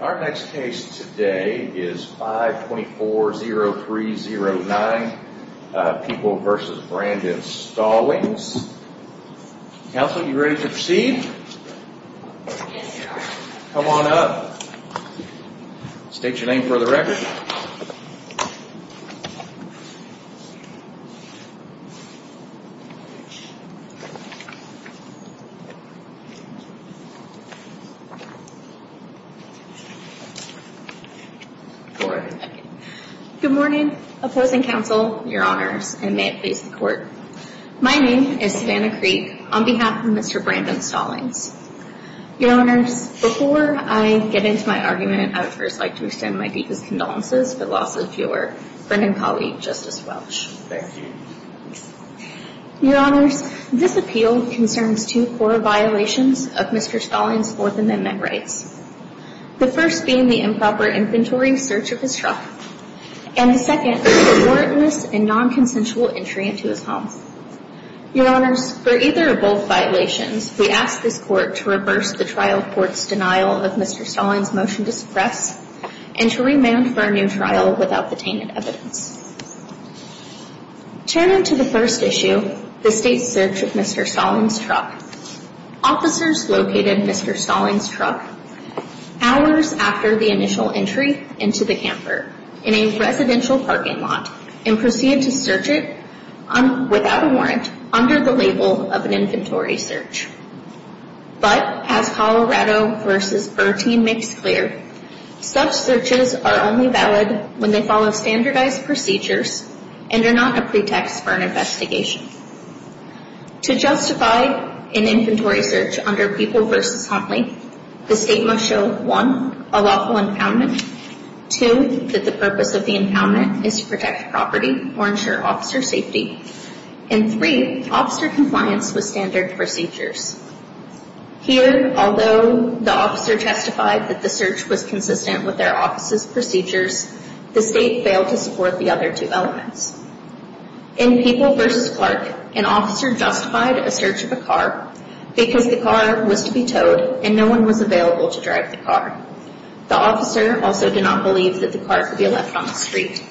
Our next case today is 524-0309, People v. Brandon Stallings. Counsel, are you ready to proceed? Yes, sir. Come on up. State your name for the record. Good morning. Opposing counsel, your honors, and may it please the court. My name is Savannah Creek, on behalf of Mr. Brandon Stallings. Your honors, before I get into my argument, I would first like to extend my deepest condolences for the loss of your friend and colleague, Justice Welch. Your honors, this appeal concerns two core violations of Mr. Stallings' Fourth Amendment rights. The first being the improper inventory search of his truck, and the second, the warrantless and non-consensual entry into his home. Your honors, for either of both violations, we ask this court to reverse the trial court's denial of Mr. Stallings' motion to suppress and to remand for a new trial without the tainted evidence. Turning to the first issue, the state search of Mr. Stallings' truck, officers located Mr. Stallings' truck hours after the initial entry into the camper in a residential parking lot and proceeded to search it without a warrant under the label of an inventory search. But, as Colorado v. Burr team makes clear, such searches are only valid when they follow standardized procedures and are not a pretext for an investigation. To justify an inventory search under People v. Huntley, the state must show, one, a lawful impoundment, two, that the purpose of the impoundment is to protect property or ensure officer safety, and three, officer compliance with standard procedures. Here, although the officer testified that the search was consistent with their office's procedures, the state failed to support the other two elements. In People v. Clark, an officer justified a search of a car because the car was to be towed and no one was available to drive the car. The officer also did not believe that the car could be left on the street.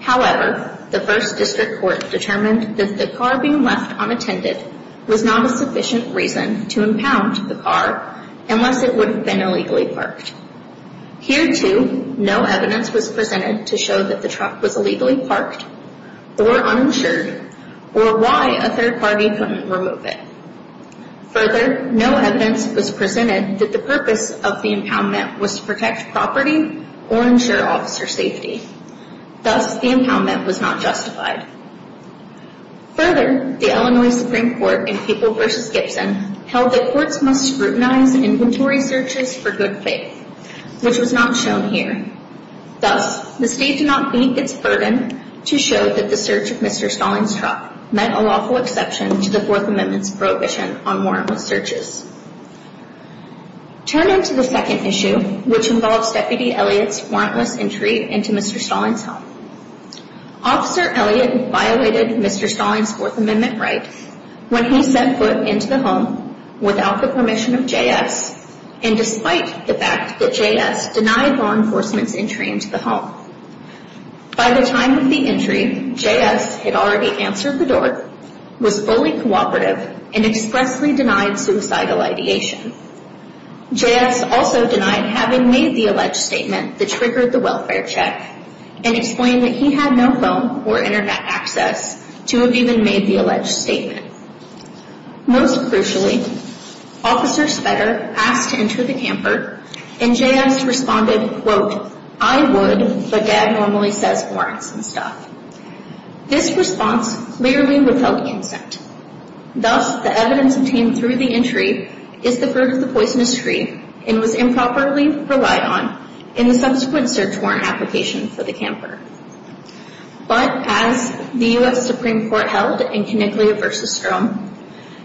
However, the first district court determined that the car being left unattended was not a sufficient reason to impound the car unless it would have been illegally parked. Here, too, no evidence was presented to show that the truck was illegally parked or uninsured or why a third party couldn't remove it. Further, no evidence was presented that the purpose of the impoundment was to protect property or ensure officer safety. Thus, the impoundment was not justified. Further, the Illinois Supreme Court in People v. Gibson held that courts must scrutinize inventory searches for good faith, which was not shown here. Thus, the state did not meet its burden to show that the search of Mr. Stallings' truck meant a lawful exception to the Fourth Amendment's prohibition on warrantless searches. Turning to the second issue, which involves Deputy Elliott's warrantless entry into Mr. Stallings' home, Officer Elliott violated Mr. Stallings' Fourth Amendment right when he set foot into the home without the permission of J.S. and despite the fact that J.S. denied law enforcement's entry into the home. By the time of the entry, J.S. had already answered the door, was fully cooperative, and expressly denied suicidal ideation. J.S. also denied having made the alleged statement that triggered the welfare check and explained that he had no phone or internet access to have even made the alleged statement. Most crucially, Officer Spetter asked to enter the camper, and J.S. responded, quote, I would, but Dad normally says warrants and stuff. This response clearly withheld incent. Thus, the evidence obtained through the entry is the fruit of the poisonous tree and was improperly relied on in the subsequent search warrant application for the camper. But as the U.S. Supreme Court held in Connickley v. Strom,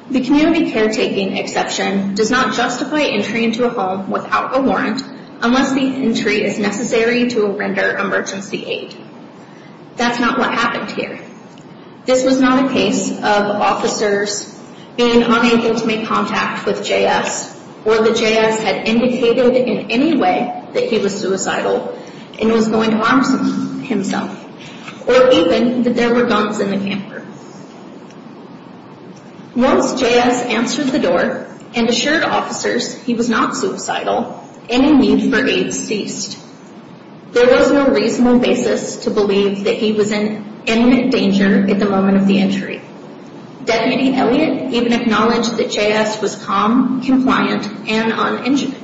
the community caretaking exception does not justify entry into a home without a warrant unless the entry is necessary to render emergency aid. That's not what happened here. This was not a case of officers being unable to make contact with J.S. or that J.S. had indicated in any way that he was suicidal and was going to harm himself, or even that there were guns in the camper. Once J.S. answered the door and assured officers he was not suicidal, any need for aid ceased. There was no reasonable basis to believe that he was in imminent danger at the moment of the entry. Deputy Elliott even acknowledged that J.S. was calm, compliant, and uninjured.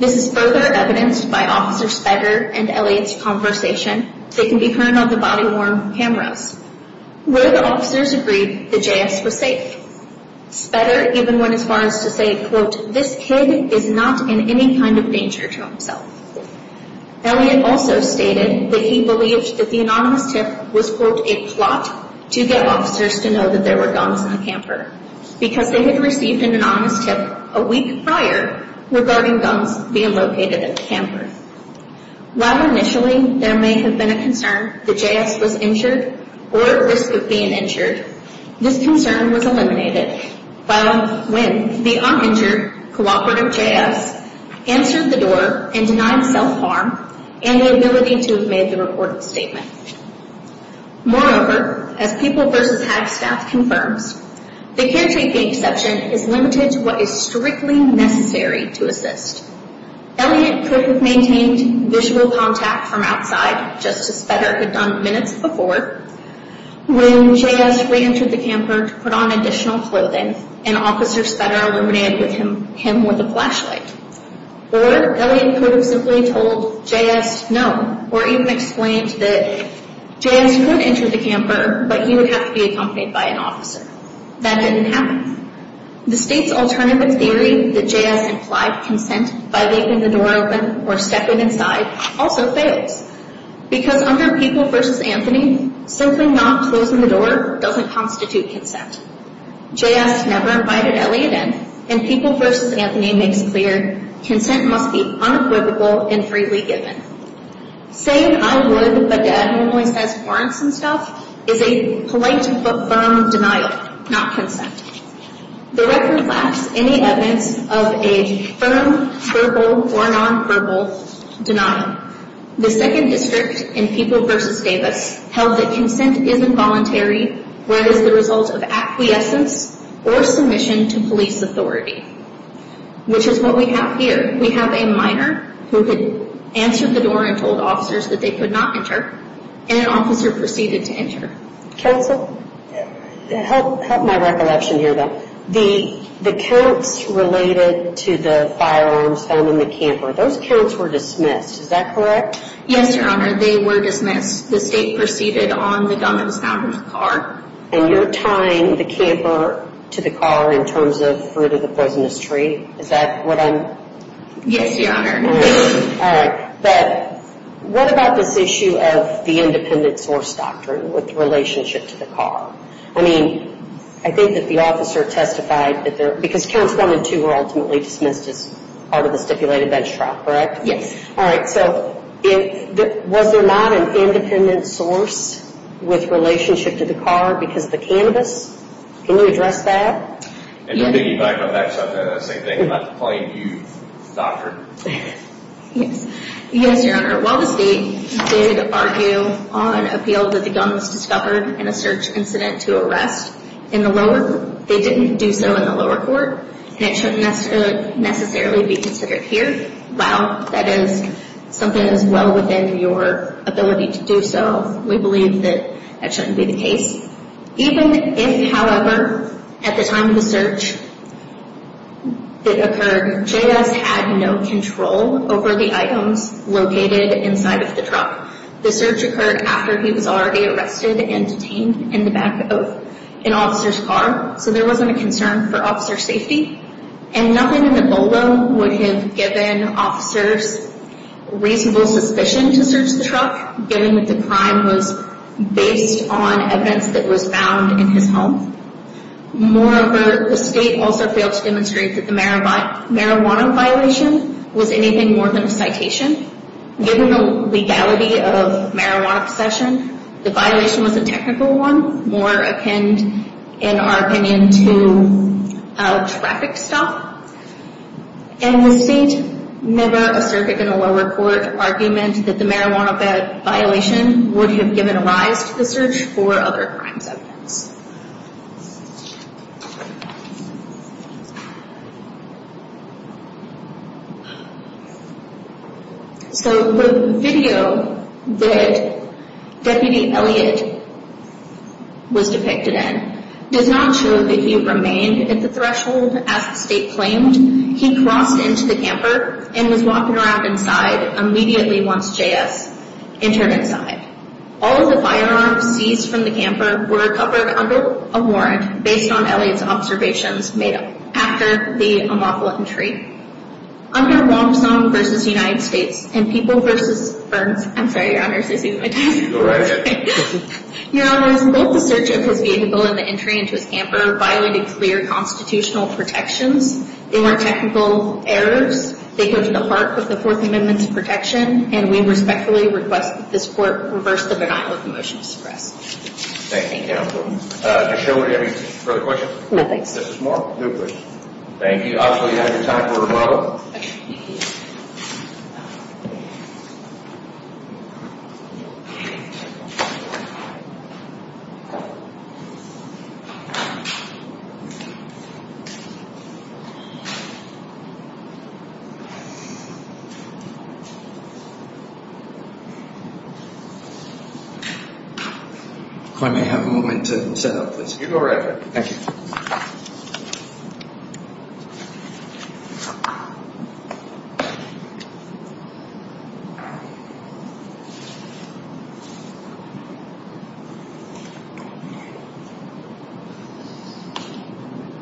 This is further evidenced by Officer Spetter and Elliott's conversation that can be heard on the body-worn cameras. Where the officers agreed that J.S. was safe, Spetter even went as far as to say, quote, this kid is not in any kind of danger to himself. Elliott also stated that he believed that the anonymous tip was, quote, a plot to get officers to know that there were guns in the camper because they had received an anonymous tip a week prior regarding guns being located at the camper. While initially there may have been a concern that J.S. was injured or at risk of being injured, this concern was eliminated when the uninjured co-operative J.S. answered the door and denied self-harm and the ability to have made the reported statement. Moreover, as People v. Hagstaff confirms, the caretaking exception is limited to what is strictly necessary to assist. Elliott could have maintained visual contact from outside, just as Spetter had done minutes before. When J.S. re-entered the camper to put on additional clothing, an officer Spetter illuminated him with a flashlight. Or Elliott could have simply told J.S. no, or even explained that J.S. could enter the camper, but he would have to be accompanied by an officer. That didn't happen. The state's alternative theory that J.S. implied consent by leaving the door open or stepping inside also fails. Because under People v. Anthony, simply not closing the door doesn't constitute consent. J.S. never invited Elliott in, and People v. Anthony makes clear consent must be unapprovable and freely given. Saying, I would, but Dad normally says, warrants and stuff, is a polite but firm denial, not consent. The record lacks any evidence of a firm, verbal, or nonverbal denial. The second district in People v. Davis held that consent is involuntary, where it is the result of acquiescence or submission to police authority, which is what we have here. We have a minor who had answered the door and told officers that they could not enter, and an officer proceeded to enter. Counsel, help my recollection here, though. The counts related to the firearms found in the camper, those counts were dismissed, is that correct? Yes, Your Honor, they were dismissed. The state proceeded on the gun that was found in the car. And you're tying the camper to the car in terms of Fruit of the Poisonous Tree? Is that what I'm… Yes, Your Honor. All right. But what about this issue of the independent source doctrine with relationship to the car? I mean, I think that the officer testified that there… Because counts 1 and 2 were ultimately dismissed as part of the stipulated bench trial, correct? Yes. All right. So, was there not an independent source with relationship to the car because of the cannabis? Can you address that? And to piggyback on that subject, I'd like to blame you, doctor. Yes, Your Honor. While the state did argue on appeal that the gun was discovered in a search incident to arrest in the lower court, they didn't do so in the lower court, and it shouldn't necessarily be considered here. Wow, that is something that is well within your ability to do so. We believe that that shouldn't be the case. Even if, however, at the time of the search it occurred, J.S. had no control over the items located inside of the truck. The search occurred after he was already arrested and detained in the back of an officer's car, so there wasn't a concern for officer safety. And nothing in the BOLO would have given officers reasonable suspicion to search the truck, given that the crime was based on evidence that was found in his home. Moreover, the state also failed to demonstrate that the marijuana violation was anything more than a citation. Given the legality of marijuana possession, the violation was a technical one, more akin, in our opinion, to a traffic stop. And the state never asserted in a lower court argument that the marijuana violation would have given rise to the search for other crimes evidence. So the video that Deputy Elliott was depicted in does not show that he remained at the threshold as the state claimed. He crossed into the camper and was walking around inside immediately once J.S. entered inside. All of the firearms seized from the camper were recovered under a warrant based on Elliott's observations made up after the unlawful entry. Under Wong Song v. United States and People v. Burns, I'm sorry, Your Honors, I see my time is up. Your Honors, both the search of his vehicle and the entry into his camper violated clear constitutional protections. They weren't technical errors. They go to the heart of the Fourth Amendment's protection, and we respectfully request that this court reverse the denial of the motion to suppress. Thank you, Counselor. Ms. Schill, do you have any further questions? No, thanks. Justice Moore? No, please. Thank you. I'll show you out of your time for rebuttal. If I may have a moment to set up, please. You go right ahead. Thank you.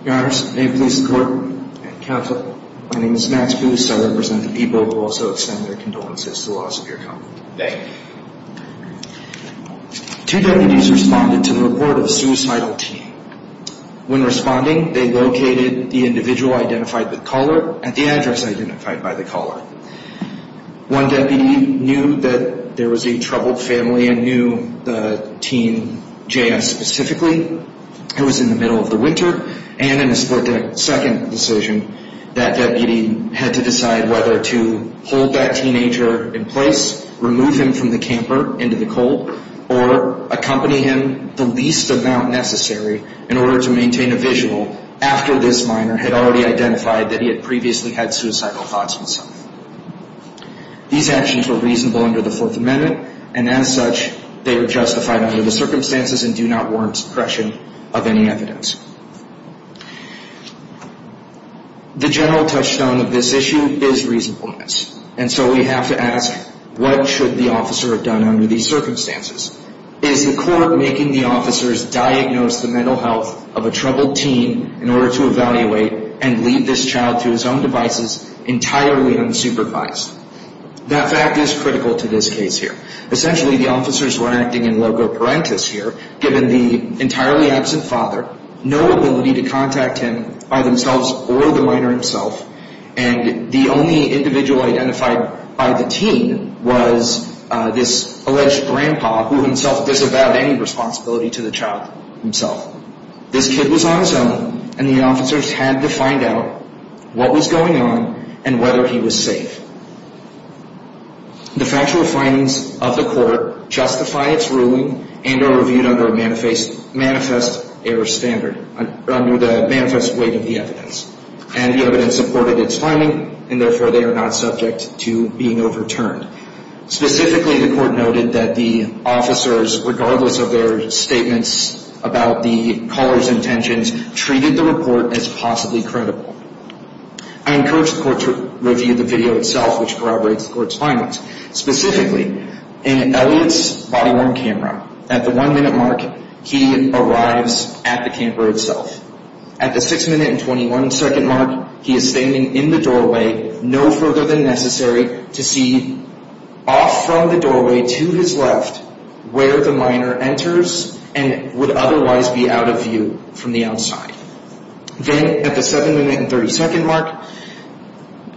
Your Honors, may it please the Court and Counsel, my name is Max Booth, I represent the people who also extend their condolences to the loss of your counsel. Thank you. Two deputies responded to the report of a suicidal teen. When responding, they located the individual identified by the caller at the address identified by the caller. One deputy knew that there was a troubled family and knew the teen, J.S. specifically. It was in the middle of the winter, and in a split-second decision, that deputy had to decide whether to hold that teenager in place, remove him from the camper into the cold, or accompany him the least amount necessary in order to maintain a visual after this minor had already identified that he had previously had suicidal thoughts himself. These actions were reasonable under the Fourth Amendment, and as such, they were justified under the circumstances and do not warrant suppression of any evidence. The general touchstone of this issue is reasonableness, and so we have to ask, what should the officer have done under these circumstances? Is the Court making the officers diagnose the mental health of a troubled teen in order to evaluate and leave this child to his own devices entirely unsupervised? That fact is critical to this case here. Essentially, the officers were acting in loco parentis here, given the entirely absent father, no ability to contact him by themselves or the minor himself, and the only individual identified by the teen was this alleged grandpa who himself disavowed any responsibility to the child himself. This kid was on his own, and the officers had to find out what was going on and whether he was safe. The factual findings of the Court justify its ruling and are reviewed under a manifest error standard, under the manifest weight of the evidence. And the evidence supported its finding, and therefore they are not subject to being overturned. Specifically, the Court noted that the officers, regardless of their statements about the caller's intentions, treated the report as possibly credible. I encourage the Court to review the video itself, which corroborates the Court's findings. Specifically, in Elliot's body-worn camera, at the 1-minute mark, he arrives at the camera itself. At the 6-minute and 21-second mark, he is standing in the doorway, no further than necessary, to see off from the doorway to his left where the minor enters and would otherwise be out of view from the outside. Then, at the 7-minute and 30-second mark,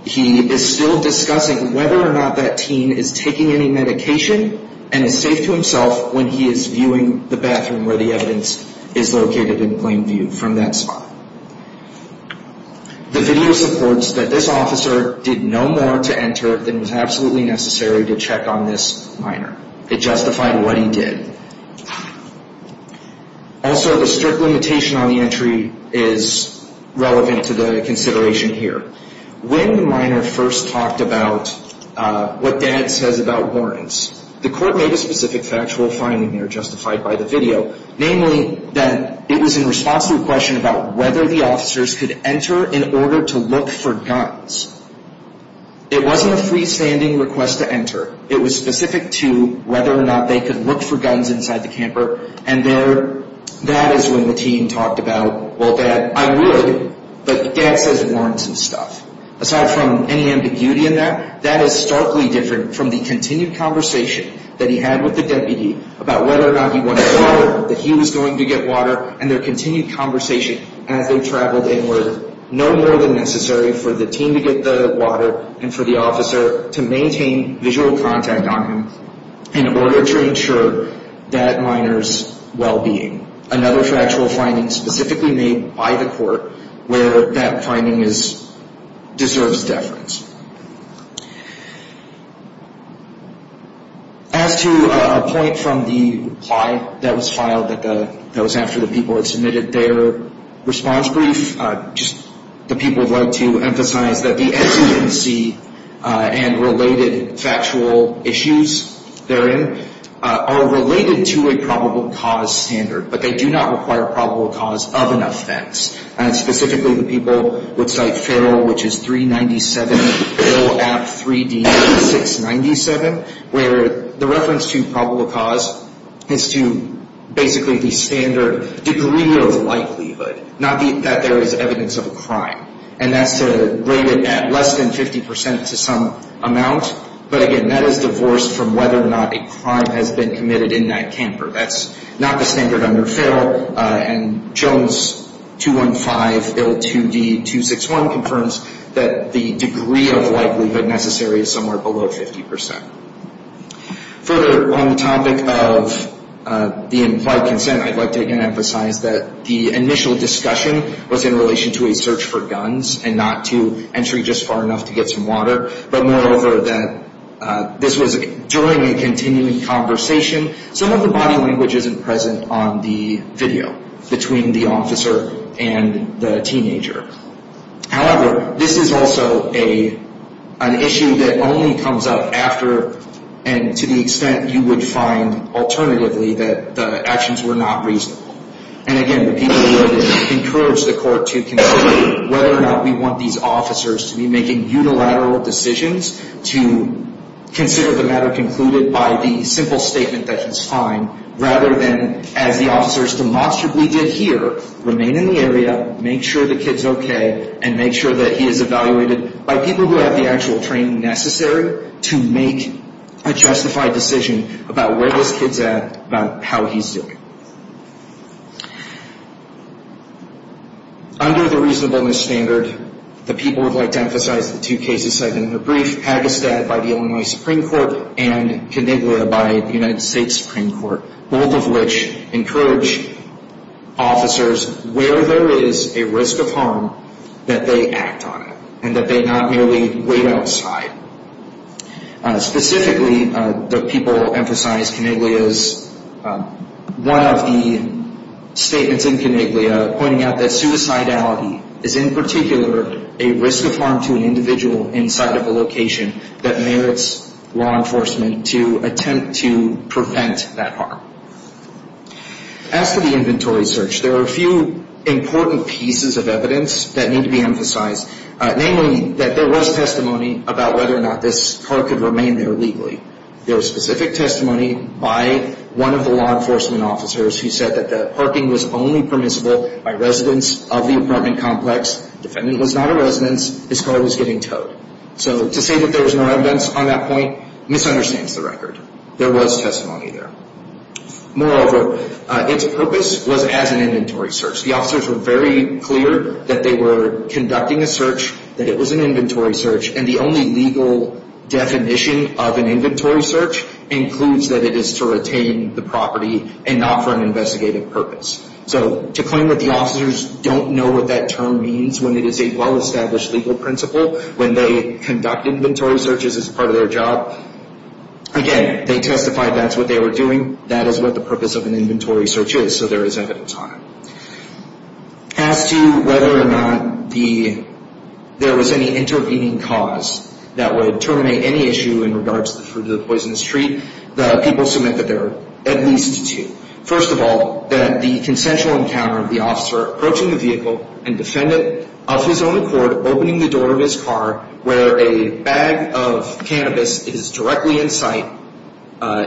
he is still discussing whether or not that teen is taking any medication and is safe to himself when he is viewing the bathroom where the evidence is located in plain view from that spot. The video supports that this officer did no more to enter than was absolutely necessary to check on this minor. It justified what he did. Also, the strict limitation on the entry is relevant to the consideration here. When the minor first talked about what Dad says about warrants, the Court made a specific factual finding there, justified by the video, namely that it was in response to a question about whether the officers could enter in order to look for guns. It wasn't a freestanding request to enter. It was specific to whether or not they could look for guns inside the camper, and that is when the teen talked about, well, Dad, I would, but Dad says warrants and stuff. Aside from any ambiguity in that, that is starkly different from the continued conversation that he had with the deputy about whether or not he wanted water, that he was going to get water, and their continued conversation as they traveled in were no more than necessary for the teen to get the water and for the officer to maintain visual contact on him in order to ensure that minor's well-being. Another factual finding specifically made by the Court where that finding deserves deference. As to a point from the reply that was filed that was after the people had submitted their response brief, just the people would like to emphasize that the exigency and related factual issues therein are related to a probable cause standard, but they do not require probable cause of an offense. And specifically, the people would cite Ferrell, which is 397 Bill Act 3D 697, where the reference to probable cause is to basically the standard degree of likelihood, not that there is evidence of a crime, and that's to rate it at less than 50% to some amount, but again, that is divorced from whether or not a crime has been committed in that camper. That's not the standard under Ferrell, and Jones 215 Bill 2D 261 confirms that the degree of likelihood necessary is somewhere below 50%. Further on the topic of the implied consent, I'd like to again emphasize that the initial discussion was in relation to a search for guns and not to entry just far enough to get some water, but moreover that this was during a continuing conversation. Some of the body language isn't present on the video between the officer and the teenager. However, this is also an issue that only comes up after and to the extent you would find alternatively that the actions were not reasonable. And again, the people would encourage the court to consider whether or not we want these officers to be making unilateral decisions to consider the matter concluded by the simple statement that he's fine rather than, as the officers demonstrably did here, remain in the area, make sure the kid's okay, and make sure that he is evaluated by people who have the actual training necessary to make a justified decision about where this kid's at, about how he's doing. Under the reasonableness standard, the people would like to emphasize the two cases cited in the brief, Pagistad by the Illinois Supreme Court and Coniglia by the United States Supreme Court, both of which encourage officers, where there is a risk of harm, that they act on it and that they not merely wait outside. Specifically, the people emphasized Coniglia's, one of the statements in Coniglia, pointing out that suicidality is in particular a risk of harm to an individual inside of a location that merits law enforcement to attempt to prevent that harm. As to the inventory search, there are a few important pieces of evidence that need to be emphasized, namely that there was testimony about whether or not this car could remain there legally. There was specific testimony by one of the law enforcement officers who said that the parking was only permissible by residents of the apartment complex. The defendant was not a resident. His car was getting towed. So to say that there was no evidence on that point misunderstands the record. There was testimony there. Moreover, its purpose was as an inventory search. The officers were very clear that they were conducting a search, that it was an inventory search, and the only legal definition of an inventory search includes that it is to retain the property and not for an investigative purpose. So to claim that the officers don't know what that term means when it is a well-established legal principle, when they conduct inventory searches as part of their job, again, they testified that's what they were doing. That is what the purpose of an inventory search is, so there is evidence on it. As to whether or not there was any intervening cause that would terminate any issue in regards to the fruit of the poisonous tree, the people submit that there are at least two. First of all, that the consensual encounter of the officer approaching the vehicle and defendant of his own accord opening the door of his car where a bag of cannabis is directly in sight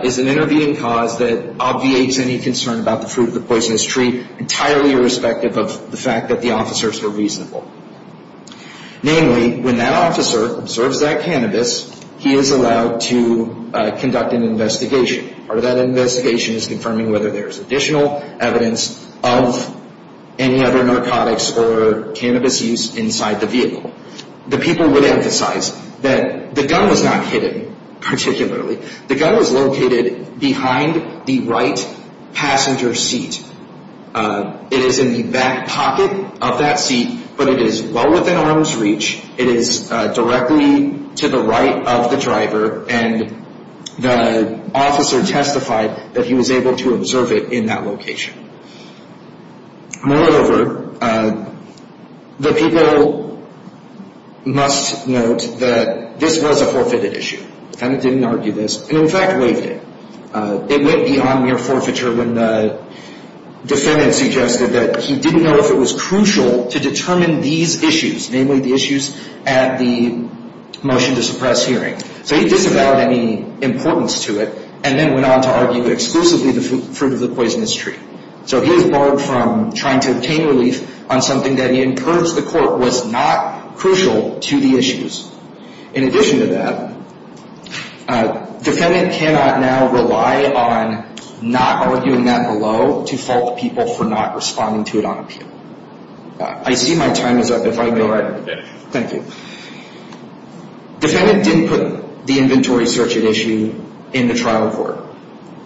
is an intervening cause that obviates any concern about the fruit of the poisonous tree entirely irrespective of the fact that the officers were reasonable. Namely, when that officer observes that cannabis, he is allowed to conduct an investigation. Part of that investigation is confirming whether there is additional evidence of any other narcotics or cannabis use inside the vehicle. The people would emphasize that the gun was not hidden particularly. The gun was located behind the right passenger seat. It is in the back pocket of that seat, but it is well within arm's reach. It is directly to the right of the driver, and the officer testified that he was able to observe it in that location. Moreover, the people must note that this was a forfeited issue. The defendant didn't argue this, and in fact waived it. It went beyond mere forfeiture when the defendant suggested that he didn't know if it was crucial to determine these issues, namely the issues at the motion to suppress hearing. He disavowed any importance to it and then went on to argue exclusively the fruit of the poisonous tree. He has barred from trying to obtain relief on something that he encouraged the court was not crucial to the issues. In addition to that, the defendant cannot now rely on not arguing that below default people for not responding to it on appeal. I see my time is up. Thank you. The defendant didn't put the inventory search at issue in the trial report.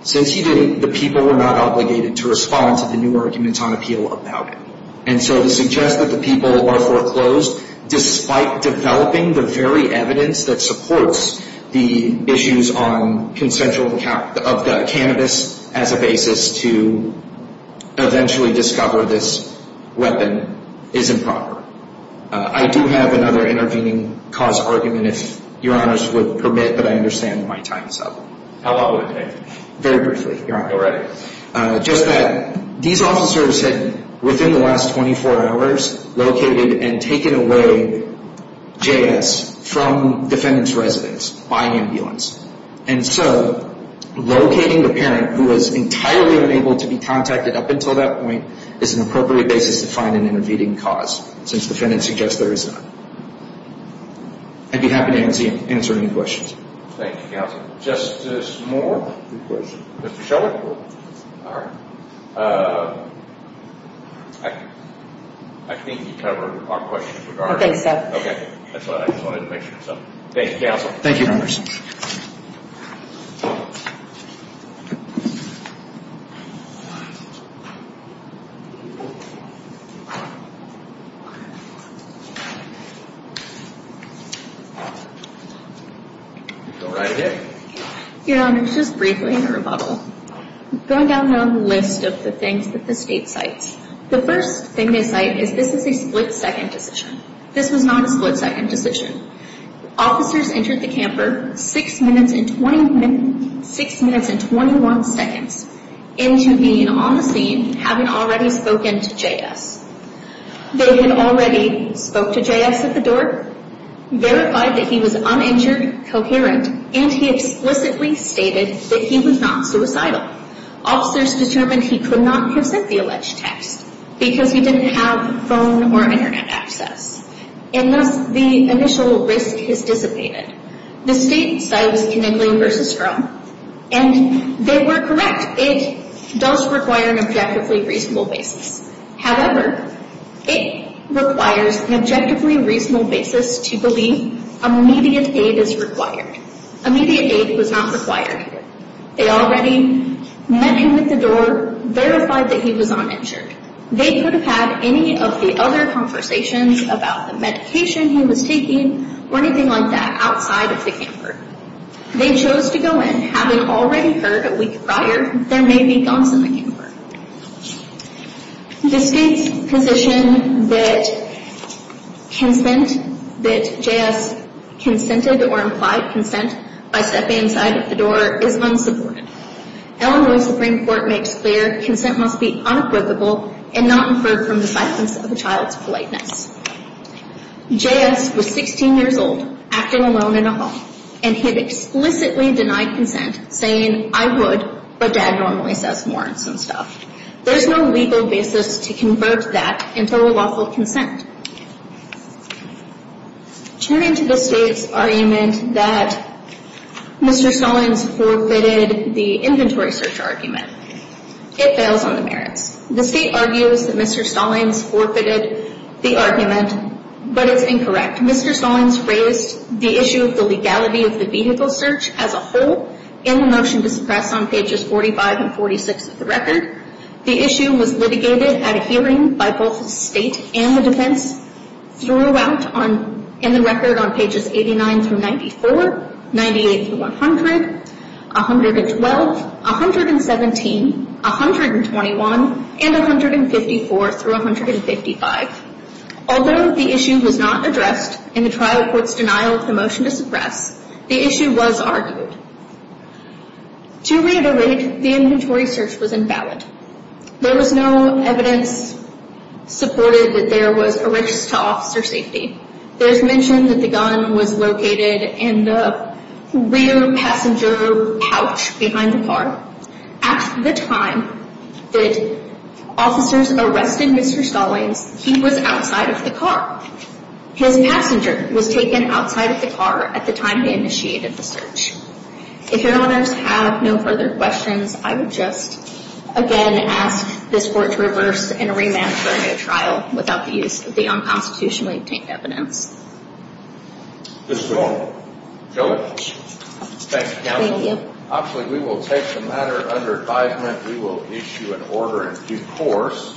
Since he didn't, the people were not obligated to respond to the new arguments on appeal about it. And so to suggest that the people are foreclosed despite developing the very evidence that supports the issues on consensual account of the cannabis as a basis to eventually discover this weapon is improper. I do have another intervening cause argument, if Your Honors would permit, but I understand my time is up. How long would it take? Very briefly, Your Honor. All right. Just that these officers had, within the last 24 hours, located and taken away JS from defendant's residence by ambulance. And so locating the parent who was entirely unable to be contacted up until that point is an appropriate basis to find an intervening cause, since the defendant suggests there is none. I'd be happy to answer any questions. Thank you, counsel. Justice Moore? Mr. Shiller? All right. I think you covered our questions regarding... I think so. Okay. That's what I just wanted to make sure. Thank you, counsel. Thank you, Your Honors. Your Honor, I did. Your Honors, just briefly, in a rebuttal, going down the list of the things that the State cites. The first thing they cite is this is a split-second decision. This was not a split-second decision. Officers entered the camper six minutes and 21 seconds into being on the scene, having already spoken to JS. They had already spoke to JS at the door, verified that he was uninjured, coherent, and he explicitly stated that he was not suicidal. Officers determined he could not have sent the alleged text because he didn't have phone or Internet access. And thus, the initial risk has dissipated. The State cites Kinnickley v. Strome, and they were correct. It does require an objectively reasonable basis. However, it requires an objectively reasonable basis to believe immediate aid is required. Immediate aid was not required. They already met him at the door, verified that he was uninjured. They could have had any of the other conversations about the medication he was taking or anything like that outside of the camper. They chose to go in having already heard a week prior there may be guns in the camper. The State's position that JS consented or implied consent by stepping inside of the door is unsupported. Illinois Supreme Court makes clear consent must be unquotable and not inferred from the silence of a child's politeness. JS was 16 years old, acting alone in a hall, and he had explicitly denied consent, saying, I would, but Dad normally says more and some stuff. There's no legal basis to convert that into a lawful consent. Turning to the State's argument that Mr. Stallings forfeited the inventory search argument, it fails on the merits. The State argues that Mr. Stallings forfeited the argument, but it's incorrect. Mr. Stallings raised the issue of the legality of the vehicle search as a whole in the motion to suppress on pages 45 and 46 of the record. The issue was litigated at a hearing by both the State and the defense throughout in the record on pages 89 through 94, 98 through 100, 112, 117, 121, and 154 through 155. Although the issue was not addressed in the trial court's denial of the motion to suppress, the issue was argued. To reiterate, the inventory search was invalid. There was no evidence supported that there was a risk to officer safety. There's mention that the gun was located in the rear passenger pouch behind the car. At the time that officers arrested Mr. Stallings, he was outside of the car. His passenger was taken outside of the car at the time they initiated the search. If your honors have no further questions, I would just again ask this court to reverse and remand for a new trial without the use of the unconstitutionally obtained evidence. This is all. Thank you, counsel. Actually, we will take the matter under advisement. We will issue an order in due course.